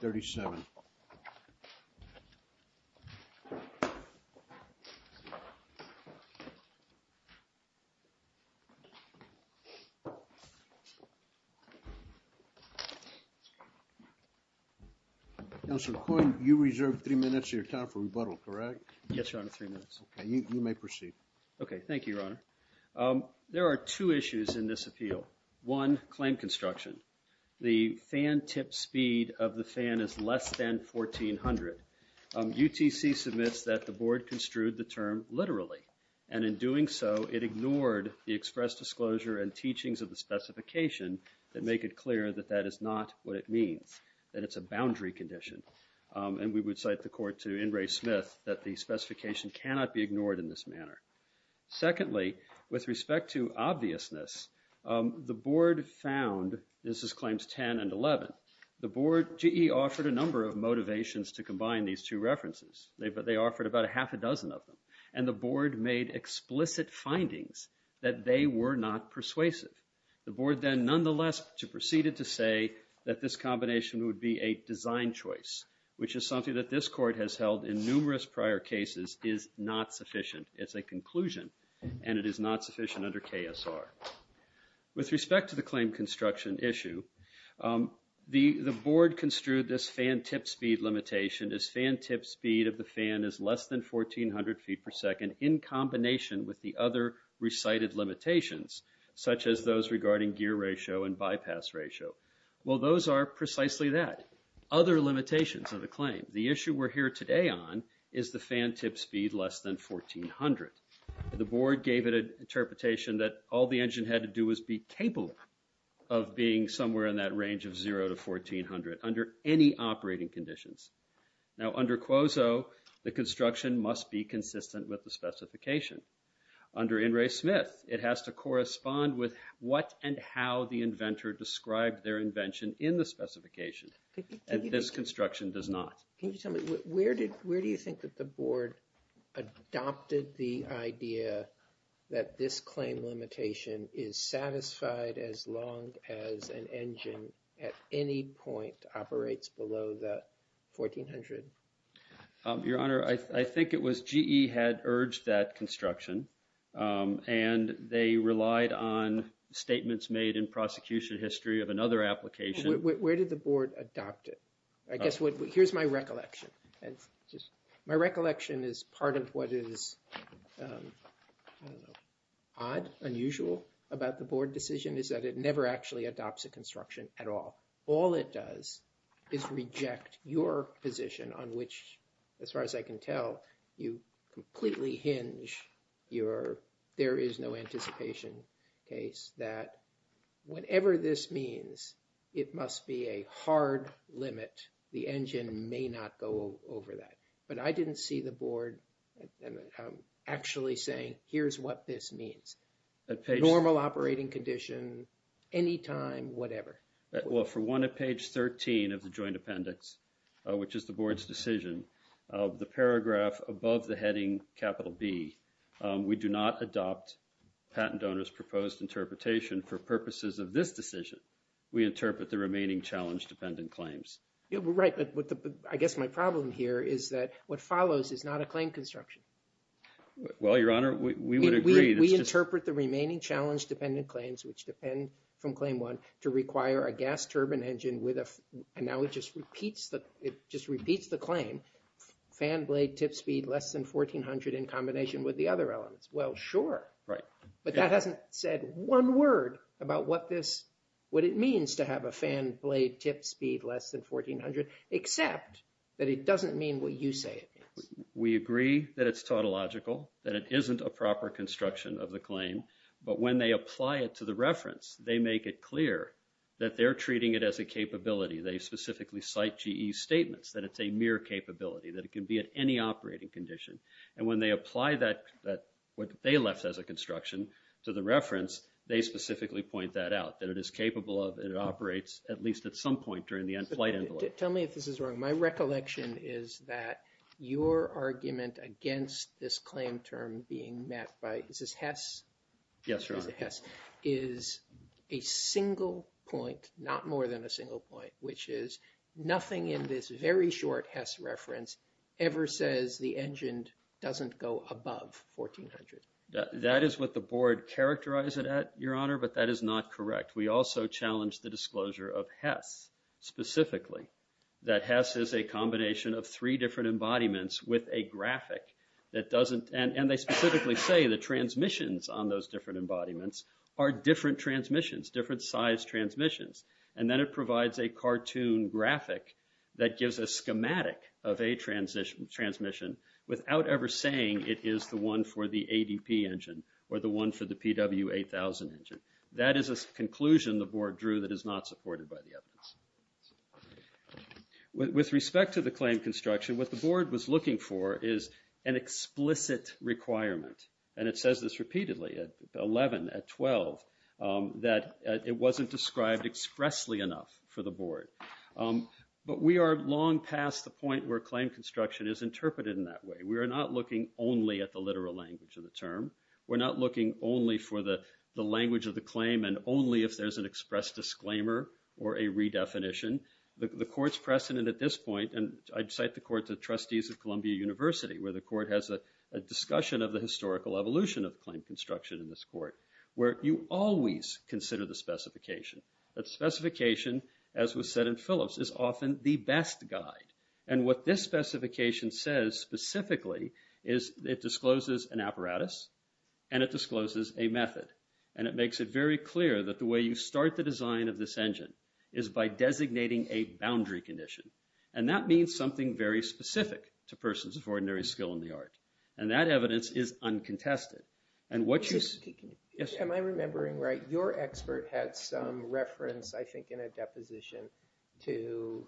37. Councilor Coyne, you reserve three minutes of your time for rebuttal, correct? Yes, Your Honor, three minutes. Okay, you may proceed. Okay, thank you, Your Honor. There are two issues in this appeal. One, claim construction. The fan tip speed of the fan is less than 1,400. UTC submits that the Board construed the term literally, and in doing so, it ignored the express disclosure and teachings of the specification that make it clear that that is not what it means, that it's a boundary condition. And we would cite the Court to Ingray-Smith that the specification cannot be ignored in this manner. Secondly, with respect to obviousness, the Board found, this is claims 10 and 11, the Board, GE offered a number of motivations to combine these two references. But they offered about a half a dozen of them. And the Board made explicit findings that they were not persuasive. The Board then nonetheless proceeded to say that this combination would be a design choice, which is something that this Court has held in numerous prior cases is not sufficient. It's a conclusion, and it is not sufficient under KSR. With respect to the claim construction issue, the Board construed this fan tip speed limitation as fan tip speed of the fan is less than 1,400 feet per second in combination with the other recited limitations, such as those regarding gear ratio and bypass ratio. Well, those are precisely that, other limitations of the claim. The issue we're here today on is the fan tip speed less than 1,400. The Board gave it an interpretation that all the engine had to do was be capable of being somewhere in that range of zero to 1,400 under any operating conditions. Now, under QOZO, the construction must be consistent with the specification. Under NRA Smith, it has to correspond with what and how the inventor described their invention in the specification, and this construction does not. Can you tell me, where do you think that the Board adopted the idea that this claim limitation is satisfied as long as an engine at any point operates below the 1,400? Your Honor, I think it was GE had urged that construction, and they relied on statements made in prosecution history of another application. Where did the Board adopt it? Here's my recollection. My recollection is part of what is I don't know, odd, unusual about the Board decision is that it never actually adopts a construction at all. All it does is reject your position on which, as far as I can tell, you completely hinge your there is no anticipation case that whatever this means, it must be a hard limit. The engine may not go over that. But I didn't see the Board actually saying, here's what this means. Normal operating condition, any time, whatever. For one, at page 13 of the joint appendix, which is the Board's decision, the paragraph above the heading capital B, we do not adopt patent donors' proposed interpretation for purposes of this decision. We interpret the remaining challenge-dependent claims. I guess my problem here is that what follows is not a claim construction. Well, Your Honor, we would agree. We interpret the remaining challenge-dependent claims, which depend from Claim 1, to require a gas turbine engine with a and now it just repeats the claim, fan blade tip speed less than 1400 in combination with the other elements. Well, sure. Right. But that hasn't said one word about what this what it means to have a fan blade tip speed less than 1400, except that it doesn't mean what you say it means. We agree that it's tautological, that it isn't a proper construction of the claim. But when they apply it to the reference, they make it clear that they're treating it as a capability. They specifically cite GE's statements that it's a mere capability, that it can be at any operating condition. And when they apply that, what they left as a construction to the reference, they specifically point that out, that it is capable of, it operates at least at some point during the flight envelope. Tell me if this is wrong. My recollection is that your argument against this claim term being met by, is this HESS? Yes, Your Honor. HESS is a single point, not more than a single point, which is nothing in this very short HESS reference ever says the engine doesn't go above 1400. That is what the board characterized it at, Your Honor, but that is not correct. We also challenged the disclosure of HESS specifically, that HESS is a combination of three different embodiments with a graphic that doesn't, and they specifically say the transmissions on those different embodiments are different transmissions, different size transmissions. And then it provides a cartoon graphic that gives a schematic of a transmission without ever saying it is the one for the ADP engine or the one for the PW8000 engine. That is a conclusion the board drew that is not supported by the evidence. With respect to the claim construction, what the board was looking for is an explicit requirement, and it says this repeatedly at 11, at 12, that it wasn't described expressly enough for the board. But we are long past the point where claim construction is interpreted in that way. We are not looking only at the literal language of the term. We're not looking only for the language of the claim and only if there's an express disclaimer or a redefinition. The court's precedent at this point, and I'd cite the court to trustees of Columbia University where the court has a discussion of the historical evolution of claim construction in this court, where you always consider the specification. That specification, as was said in Phillips, is often the best guide. And what this specification says specifically is it discloses an apparatus and it discloses a method. And it makes it very clear that the way you start the design of this engine is by designating a boundary condition. And that means something very specific to persons of ordinary skill in the art. And that evidence is uncontested. And what you... Can you... Yes. Am I remembering right? Your expert had some reference, I think, in a deposition to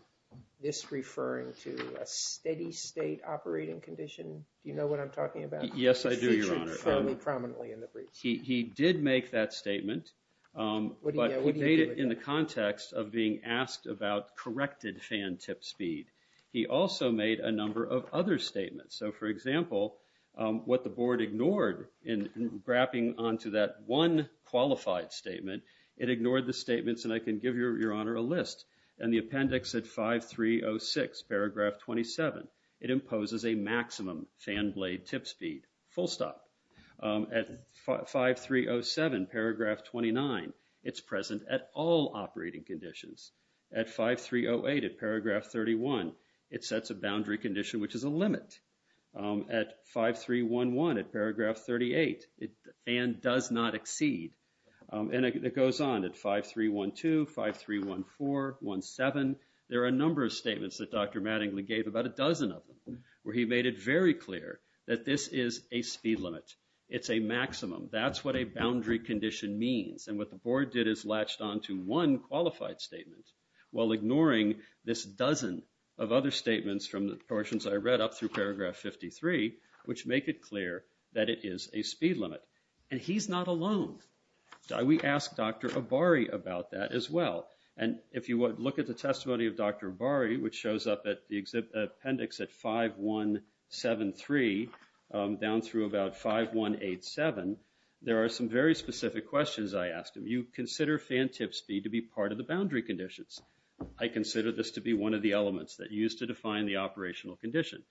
this referring to a steady state operating condition. Do you know what I'm talking about? Yes, I do, Your Honor. It featured fairly prominently in the brief. He did make that statement. What do you know? He made it in the context of being asked about corrected fan tip speed. He also made a number of other statements. So, for example, what the board ignored in grappling onto that one qualified statement, it ignored the statements, and I can give Your Honor a list. In the appendix at 5306, paragraph 27, it imposes a maximum fan blade tip speed, full stop. At 5307, paragraph 29, it's present at all operating conditions. At 5308, at paragraph 31, it sets a boundary condition, which is a limit. At 5311, at paragraph 38, fan does not exceed. And it goes on at 5312, 5314, 17. There are a number of statements that Dr. Mattingly gave, about a dozen of them, where he made it very clear that this is a speed limit. It's a maximum. That's what a boundary condition means. And what the board did is latched onto one qualified statement while ignoring this dozen of other statements from the portions I read up through paragraph 53, which make it clear that it is a speed limit. And he's not alone. We asked Dr. Abari about that as well. And if you would look at the testimony of Dr. Abari, which shows up at the appendix at 5173, down through about 5187, there are some very specific questions I asked him. You consider fan tip speed to be part of the boundary conditions. I consider this to be one of the elements that you use to define the operational condition.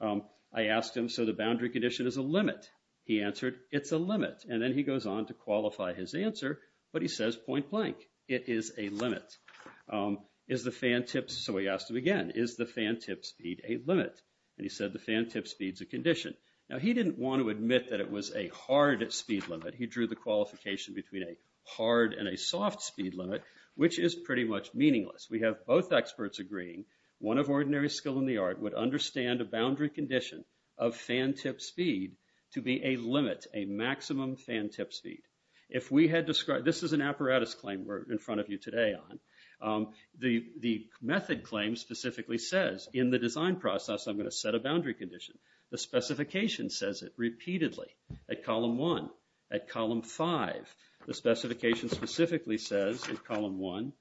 I asked him, so the boundary condition is a limit. He answered, it's a limit. And then he goes on to qualify his answer. But he says, point blank, it is a limit. Is the fan tip, so we asked him again, is the fan tip speed a limit? And he said, the fan tip speed's a condition. Now, he didn't want to admit that it was a hard speed limit. He drew the qualification between a hard and a soft speed limit, which is pretty much meaningless. We have both experts agreeing, one of ordinary skill in the art would understand a boundary condition of fan tip speed to be a limit, a maximum fan tip speed. If we had described, this is an apparatus claim we're in front of you today on. The method claim specifically says, in the design process, I'm going to set a boundary condition. The specification says it repeatedly at column one, at column five. The specification specifically says in column one,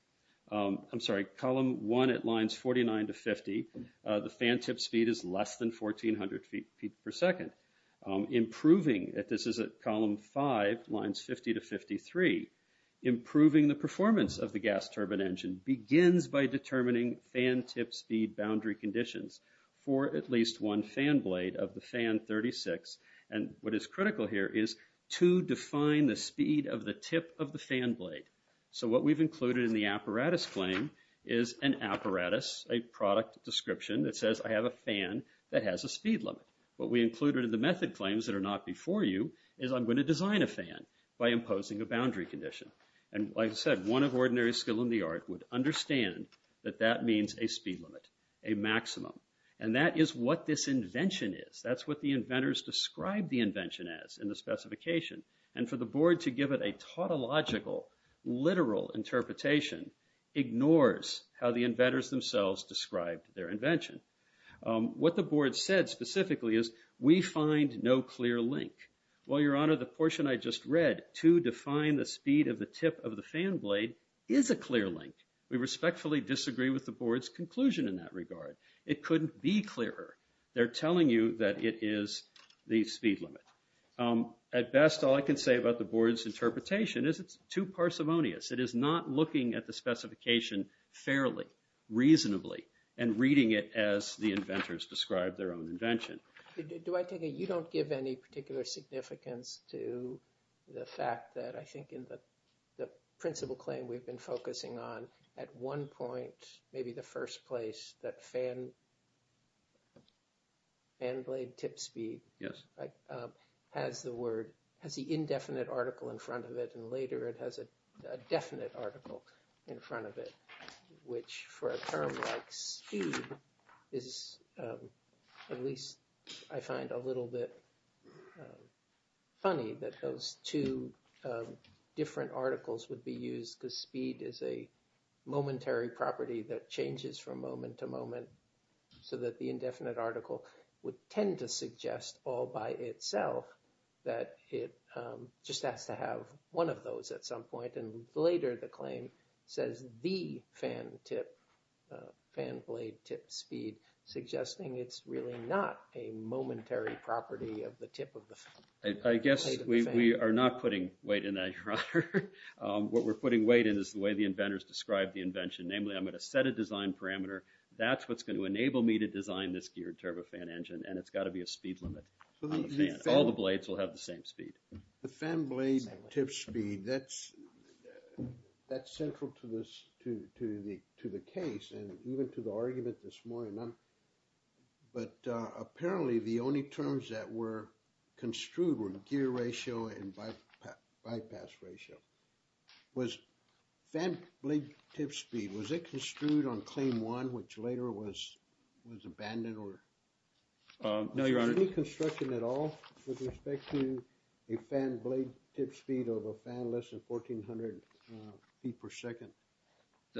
I'm sorry, column one at lines 49 to 50, the fan tip speed is less than 1400 feet per second. Improving, this is at column five, lines 50 to 53. Improving the performance of the gas turbine engine begins by determining fan tip speed boundary conditions for at least one fan blade of the fan 36. And what is critical here is to define the speed of the tip of the fan blade. So what we've included in the apparatus claim is an apparatus, a product description that says I have a fan that has a speed limit. What we included in the method claims that are not before you is I'm going to design a fan by imposing a boundary condition. And like I said, one of ordinary skill in the art would understand that that means a speed limit, a maximum. And that is what this invention is. That's what the inventors describe the invention as in the specification. And for the board to give it a tautological, literal interpretation ignores how the inventors themselves described their invention. What the board said specifically is, we find no clear link. Well, Your Honor, the portion I just read to define the speed of the tip of the fan blade is a clear link. We respectfully disagree with the board's conclusion in that regard. It couldn't be clearer. They're telling you that it is the speed limit. At best, all I can say about the board's interpretation is it's too parsimonious. It is not looking at the specification fairly, reasonably, and reading it as the inventors described their own invention. Do I take it you don't give any particular significance to the fact that I think in the principal claim we've been focusing on, at one point, maybe the first place, that fan blade tip speed has the word, has the indefinite article in front of it, and later it has a definite article in front of it, which for a term like speed is at least I find a little bit funny that those two different articles would be used because speed is a momentary property that changes from moment to moment so that the indefinite article would tend to suggest all by itself that it just has to have one of those at some point, and later the claim says the fan tip, fan blade tip speed, suggesting it's really not a momentary property of the tip of the fan. I guess we are not putting weight in that, your honor. What we're putting weight in is the way the inventors described the invention, namely I'm going to set a design parameter. That's what's going to enable me to design this geared turbofan engine, and it's got to be a speed limit. All the blades will have the same speed. The fan blade tip speed, that's central to the case and even to the argument this morning. But apparently the only terms that were construed were gear ratio and bypass ratio was fan blade tip speed. Was it construed on claim one, which later was abandoned or? No, your honor. Any construction at all with respect to a fan blade tip speed of a fan less than 1400 feet per second?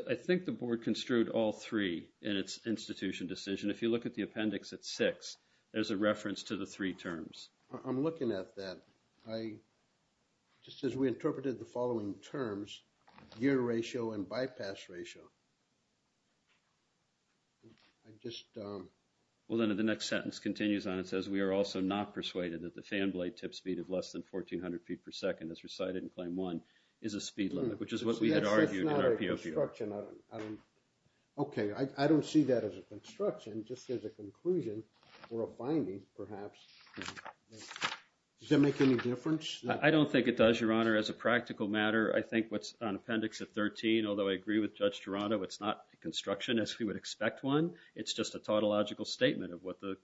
I think the board construed all three in its institution decision. If you look at the appendix at six, there's a reference to the three terms. I'm looking at that. Just as we interpreted the following terms, gear ratio and bypass ratio. I just. Well, then the next sentence continues on. It says we are also not persuaded that the fan blade tip speed of less than 1400 feet per second as recited in claim one is a speed limit, which is what we had argued in our POPR. OK, I don't see that as a construction, just as a conclusion or a finding, perhaps. Does that make any difference? I don't think it does, your honor. As a practical matter, I think what's on appendix at 13, although I agree with Judge Gerardo, it's not construction as we would expect one. It's just a tautological statement of what the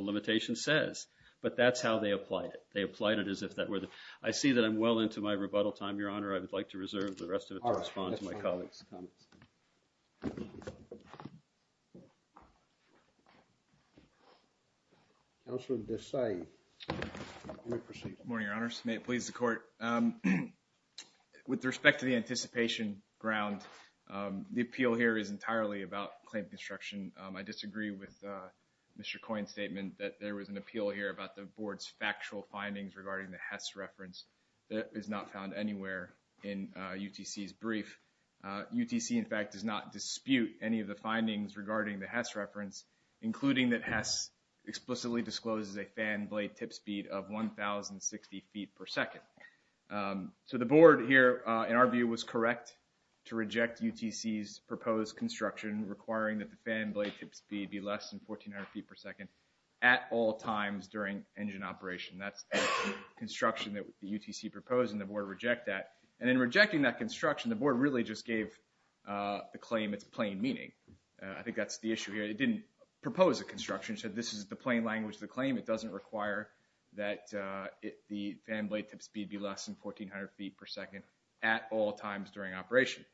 limitation says. But that's how they applied it. They applied it as if that were the. I see that I'm well into my rebuttal time, your honor. I would like to reserve the rest of it to respond to my colleagues comments. Councilor Desai, let me proceed. Good morning, your honors. May it please the court. With respect to the anticipation ground, the appeal here is entirely about claim construction. I disagree with Mr. Coyne's statement that there was an appeal here about the board's factual findings regarding the Hess reference that is not found anywhere in UTC's brief. UTC, in fact, does not dispute any of the findings regarding the Hess reference, including that Hess explicitly discloses a fan blade tip speed of 1060 feet per second. So the board here, in our view, was correct to reject UTC's proposed construction, requiring that the fan blade tip speed be less than 1400 feet per second at all times during engine operation. That's the construction that the UTC proposed, and the board reject that. And in rejecting that construction, the board really just gave the claim its plain meaning. I think that's the issue here. It didn't propose a construction, said this is the plain language of the claim. It doesn't require that the fan blade tip speed be less than 1400 feet per second at all times during operation.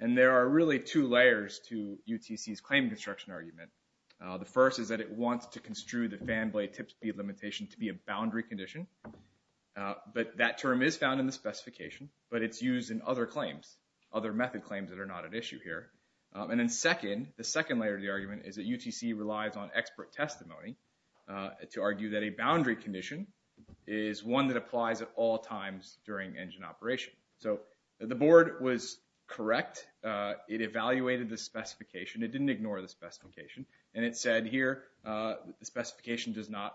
And there are really two layers to UTC's claim construction argument. The first is that it wants to construe the fan blade tip speed limitation to be a boundary condition. But that term is found in the specification, but it's used in other claims, other method claims that are not at issue here. And then second, the second layer of the argument is that UTC relies on expert testimony to argue that a boundary condition is one that applies at all times during engine operation. So the board was correct. It evaluated the specification. It didn't ignore the specification. And it said here, the specification does not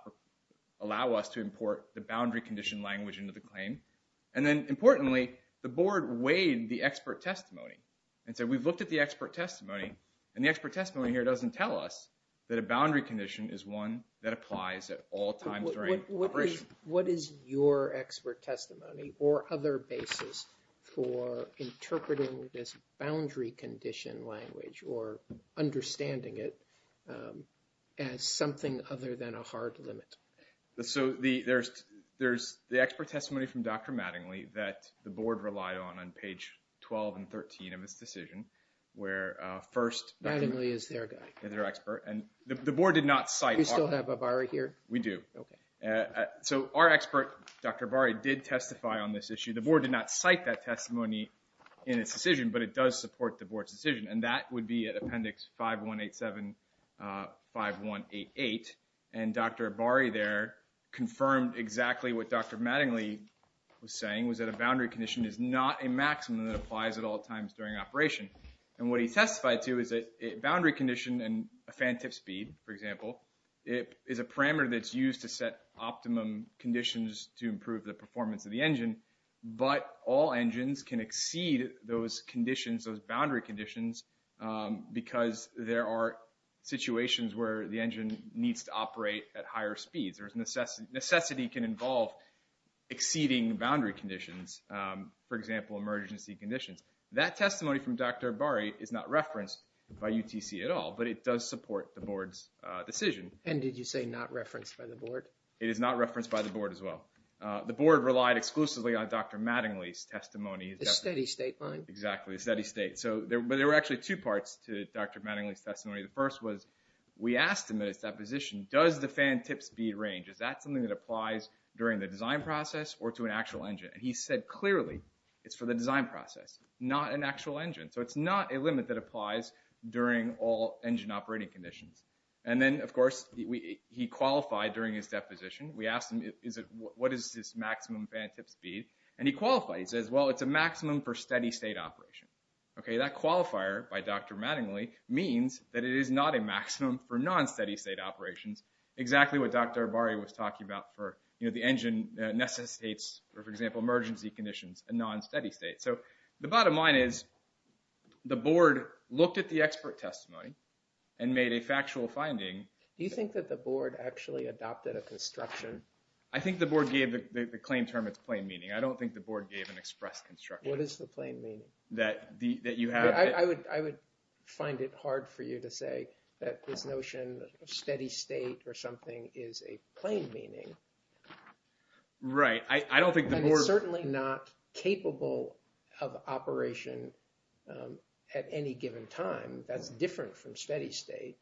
allow us to import the boundary condition language into the claim. And then importantly, the board weighed the expert testimony and said we've looked at the expert testimony and the expert testimony here doesn't tell us that a boundary condition is one that applies at all times during operation. What is your expert testimony or other basis for interpreting this boundary condition language or understanding it as something other than a hard limit? So there's the expert testimony from Dr. Mattingly that the board relied on on page 12 and 13 of this decision, where first... Mattingly is their guy. ...is their expert. And the board did not cite... Do you still have a bar here? We do. OK. So our expert, Dr. Bari, did testify on this issue. The board did not cite that testimony in its decision, but it does support the board's decision. And that would be at Appendix 5187 5188. And Dr. Bari there confirmed exactly what Dr. Mattingly was saying was that a boundary condition is not a maximum that applies at all times during operation. And what he testified to is that a boundary condition and a fan tip speed, for example, it is a parameter that's used to set optimum conditions to improve the performance of the engine. But all engines can exceed those conditions, those boundary conditions, because there are situations where the engine needs to operate at higher speeds. There's necessity. Necessity can involve exceeding boundary conditions. For example, emergency conditions. That testimony from Dr. Bari is not referenced by UTC at all, but it does support the board's decision. And did you say not referenced by the board? It is not referenced by the board as well. The board relied exclusively on Dr. Mattingly's testimony. A steady state line. Exactly, a steady state. But there were actually two parts to Dr. Mattingly's testimony. The first was we asked him at his deposition, does the fan tip speed range, is that something that applies during the design process or to an actual engine? And he said clearly, it's for the design process, not an actual engine. So it's not a limit that applies during all engine operating conditions. And then, of course, he qualified during his deposition. We asked him, what is this maximum fan tip speed? And he qualified. He says, well, it's a maximum for steady state operation. That qualifier by Dr. Mattingly means that it is not a maximum for non-steady state operations. Exactly what Dr. Abari was talking about for the engine necessitates, for example, emergency conditions, a non-steady state. So the bottom line is the board looked at the expert testimony and made a factual finding. Do you think that the board actually adopted a construction? I think the board gave the claim term its plain meaning. I don't think the board gave an express construction. What is the plain meaning? That you have? I would find it hard for you to say that this notion of steady state or something is a plain meaning. Right. I don't think the board... It's certainly not capable of operation at any given time. That's different from steady state.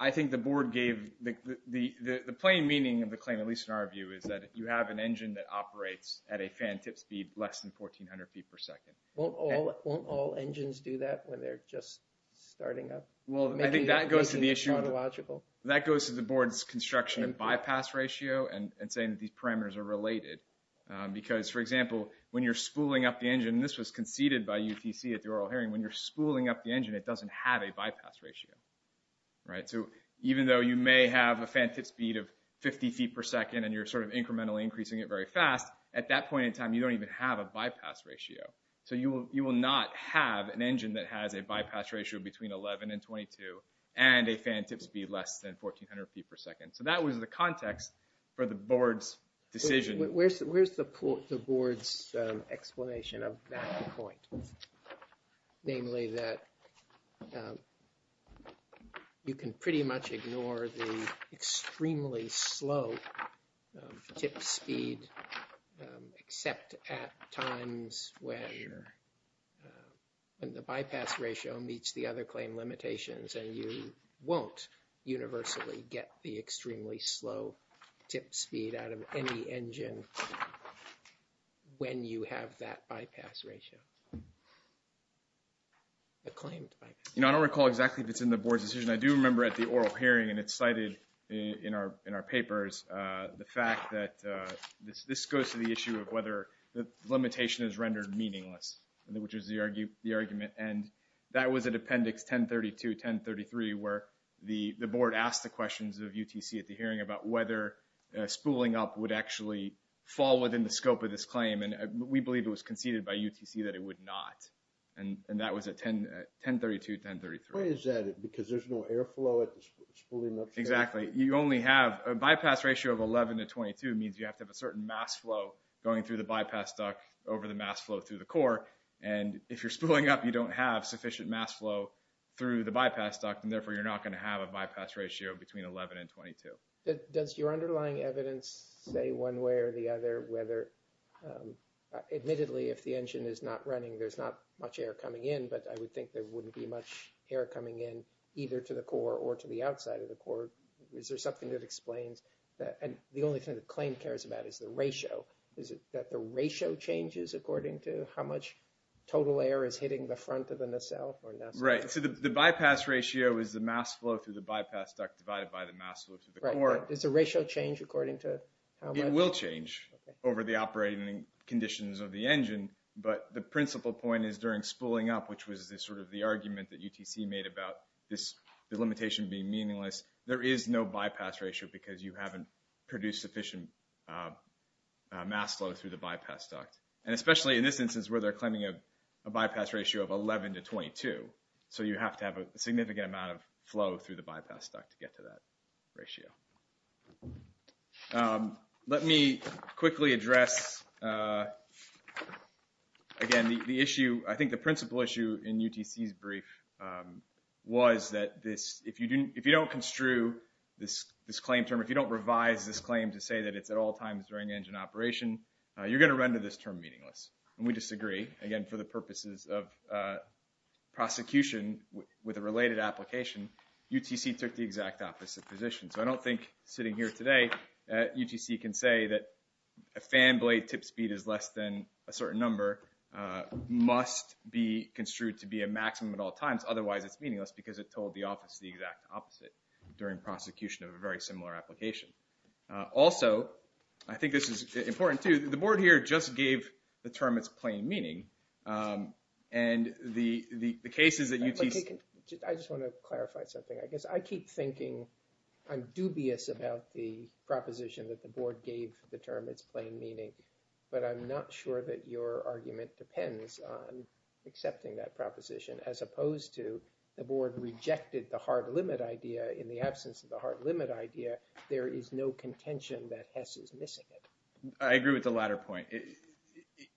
I think the board gave the plain meaning of the claim, at least in our view, is that you have an engine that operates at a fan tip speed less than 1400 feet per second. Won't all engines do that when they're just starting up? Well, I think that goes to the issue... Making it chronological. That goes to the board's construction and bypass ratio and saying that these parameters are related. Because, for example, when you're spooling up the engine, and this was conceded by UTC at the oral hearing, when you're spooling up the engine, it doesn't have a bypass ratio. Right. So even though you may have a fan tip speed of 50 feet per second and you're sort of incrementally increasing it very fast, at that point in time, you don't even have a bypass ratio. So you will not have an engine that has a bypass ratio between 11 and 22 and a fan tip speed less than 1400 feet per second. So that was the context for the board's decision. Where's the board's explanation of that point? Namely that you can pretty much ignore the extremely slow tip speed except at times when the bypass ratio meets the other claim limitations and you won't universally get the extremely slow tip speed out of any engine when you have that bypass ratio. The claimed bypass ratio. You know, I don't recall exactly if it's in the board's decision. I do remember at the oral hearing, and it's cited in our papers, the fact that this goes to the issue of whether the limitation is rendered meaningless, which is the argument. And that was at appendix 1032-1033 where the board asked the questions of UTC at the hearing about whether spooling up would actually fall within the scope of this claim. And we believe it was conceded by UTC that it would not. And that was at 1032-1033. Why is that? Because there's no airflow at the spooling up stage? Exactly. You only have a bypass ratio of 11 to 22 means you have to have a certain mass flow going through the bypass duct over the mass flow through the core. And if you're spooling up, you don't have sufficient mass flow through the bypass duct, and therefore you're not going to have a bypass ratio between 11 and 22. Does your underlying evidence say one way or the other, whether admittedly, if the engine is not running, there's not much air coming in, but I would think there wouldn't be much air coming in either to the core or to the outside of the core Is there something that explains that? And the only thing the claim cares about is the ratio. Is it that the ratio changes according to how much total air is hitting the front of the nacelle? Right. So the bypass ratio is the mass flow through the bypass duct divided by the mass flow through the core. Does the ratio change according to how much? It will change over the operating conditions of the engine. But the principal point is during spooling up, which was sort of the argument that UTC made about this limitation being meaningless, there is no bypass ratio because you haven't produced sufficient mass flow through the bypass duct. And especially in this instance where they're claiming a bypass ratio of 11 to 22. So you have to have a significant amount of flow through the bypass duct to get to that ratio. Let me quickly address again, the issue, I think the principal issue in UTC's brief was that this, if you don't construe this claim term, if you don't revise this claim to say that it's at all times during engine operation, you're going to render this term meaningless. And we disagree. Again, for the purposes of prosecution with a related application, UTC took the exact opposite position. So I don't think sitting here today UTC can say that a fan blade tip speed is less than a certain number must be construed to be a maximum at all times. Otherwise it's meaningless because it told the office the exact opposite during prosecution of a very similar application. Also, I think this is important too. The board here just gave the term it's plain meaning. And the cases that UTC- I just want to clarify something. I guess I keep thinking I'm dubious about the proposition that the board gave the term it's plain meaning, but I'm not sure that your argument depends on accepting that proposition as opposed to the board rejected the hard limit idea. In the absence of the hard limit idea, there is no contention that Hess is missing it. I agree with the latter point.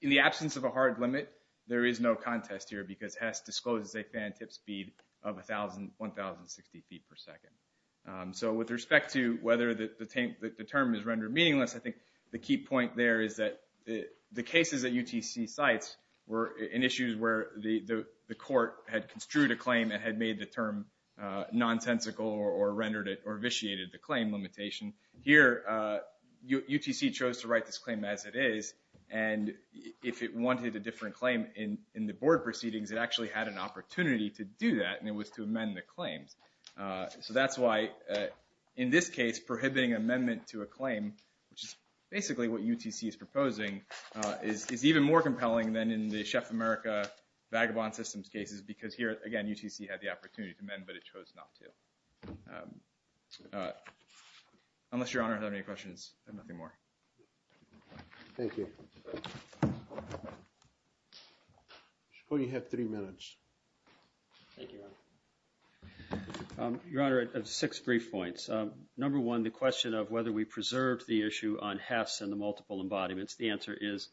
In the absence of a hard limit, there is no contest here because Hess discloses a fan tip speed of 1,060 feet per second. So with respect to whether the term is rendered meaningless, I think the key point there is that the cases that UTC cites were in issues where the court had construed a claim and had made the term nonsensical or rendered it or vitiated the claim limitation. Here, UTC chose to write this claim as it is. And if it wanted a different claim in the board proceedings, it actually had an opportunity to do that and it was to amend the claims. So that's why in this case, prohibiting amendment to a claim, which is basically what UTC is proposing, is even more compelling than in the Chef America vagabond systems cases because here, again, UTC had the opportunity to amend but it chose not to. Unless Your Honor has any questions, I have nothing more. Thank you. I suppose you have three minutes. Thank you, Your Honor. Your Honor, I have six brief points. Number one, the question of whether we preserved the issue on Hess and the multiple embodiments. The answer is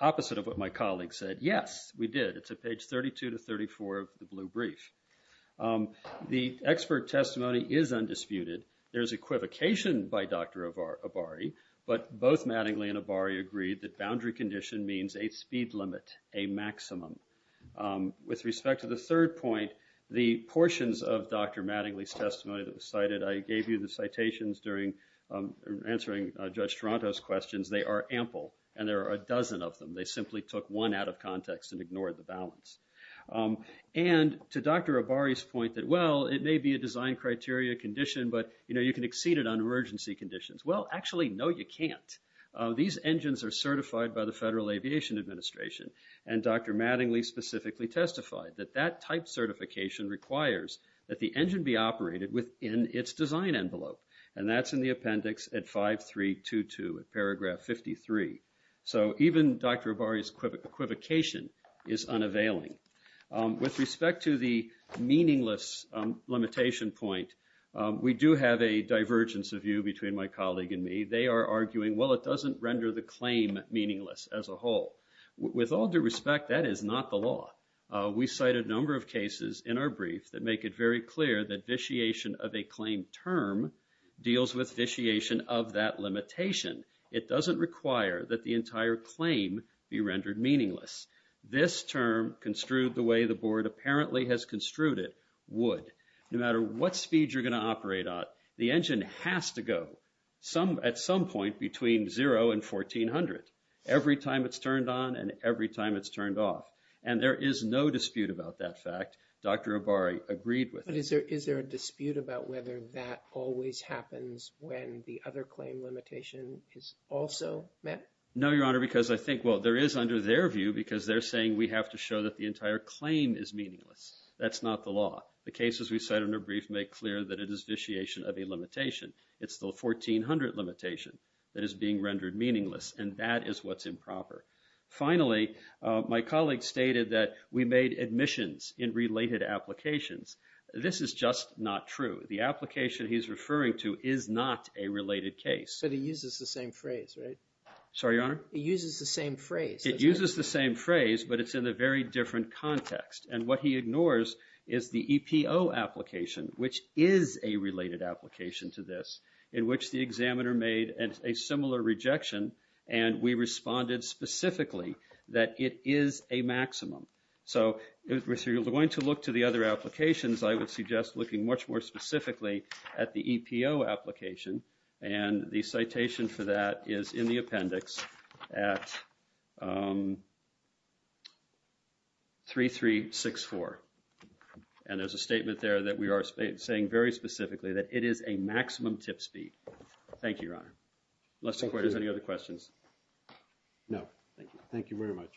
opposite of what my colleague said. Yes, we did. It's at page 32 to 34 of the blue brief. The expert testimony is undisputed. There's equivocation by Dr. Abari but both Mattingly and Abari agreed that boundary condition means a speed limit, a maximum. With respect to the third point, the portions of Dr. Mattingly's testimony that was cited, I gave you the citations in answering Judge Toronto's questions, they are ample and there are a dozen of them. They simply took one out of context and ignored the balance. And to Dr. Abari's point that, well, it may be a design criteria condition but you can exceed it on emergency conditions. Well, actually, no, you can't. These engines are certified by the Federal Aviation Administration and Dr. Mattingly specifically testified that that type certification requires that the engine be operated within its design envelope and that's in the appendix at 5322, at paragraph 53. So even Dr. Abari's equivocation is unavailing. With respect to the meaningless limitation point, we do have a divergence of view between my colleague and me. They are arguing, well, it doesn't render the claim meaningless as a whole. With all due respect, that is not the law. We cite a number of cases in our brief that make it very clear that vitiation of a claim term deals with vitiation of that limitation. It doesn't require that the entire claim be rendered meaningless. This term construed the way the board apparently has construed it, would. No matter what speed you're going to operate on, the engine has to go at some point between zero and 1400 every time it's turned on and every time it's turned off. And there is no dispute about that fact. Dr. Abari agreed with that. But is there a dispute about whether that always happens when the other claim limitation is also met? No, Your Honor, because I think, well, there is under their view because they're saying we have to show that the entire claim is meaningless. That's not the law. The cases we cite in our brief make clear that it is vitiation of a limitation. It's the 1400 limitation that is being rendered meaningless. And that is what's improper. Finally, my colleague stated that we made admissions in related applications. This is just not true. The application he's referring to is not a related case. But it uses the same phrase, right? Sorry, Your Honor? It uses the same phrase. It uses the same phrase, but it's in a very different context. And what he ignores is the EPO application, which is a related application to this, in which the examiner made a similar rejection and we responded specifically that it is a maximum. So, if you're going to look to the other applications, I would suggest looking much more specifically at the EPO application. And the citation for that is in the appendix at 3364. And there's a statement there that we are saying very specifically that it is a maximum tip speed. Thank you, Your Honor. Unless the court has any other questions. No, thank you. Thank you very much.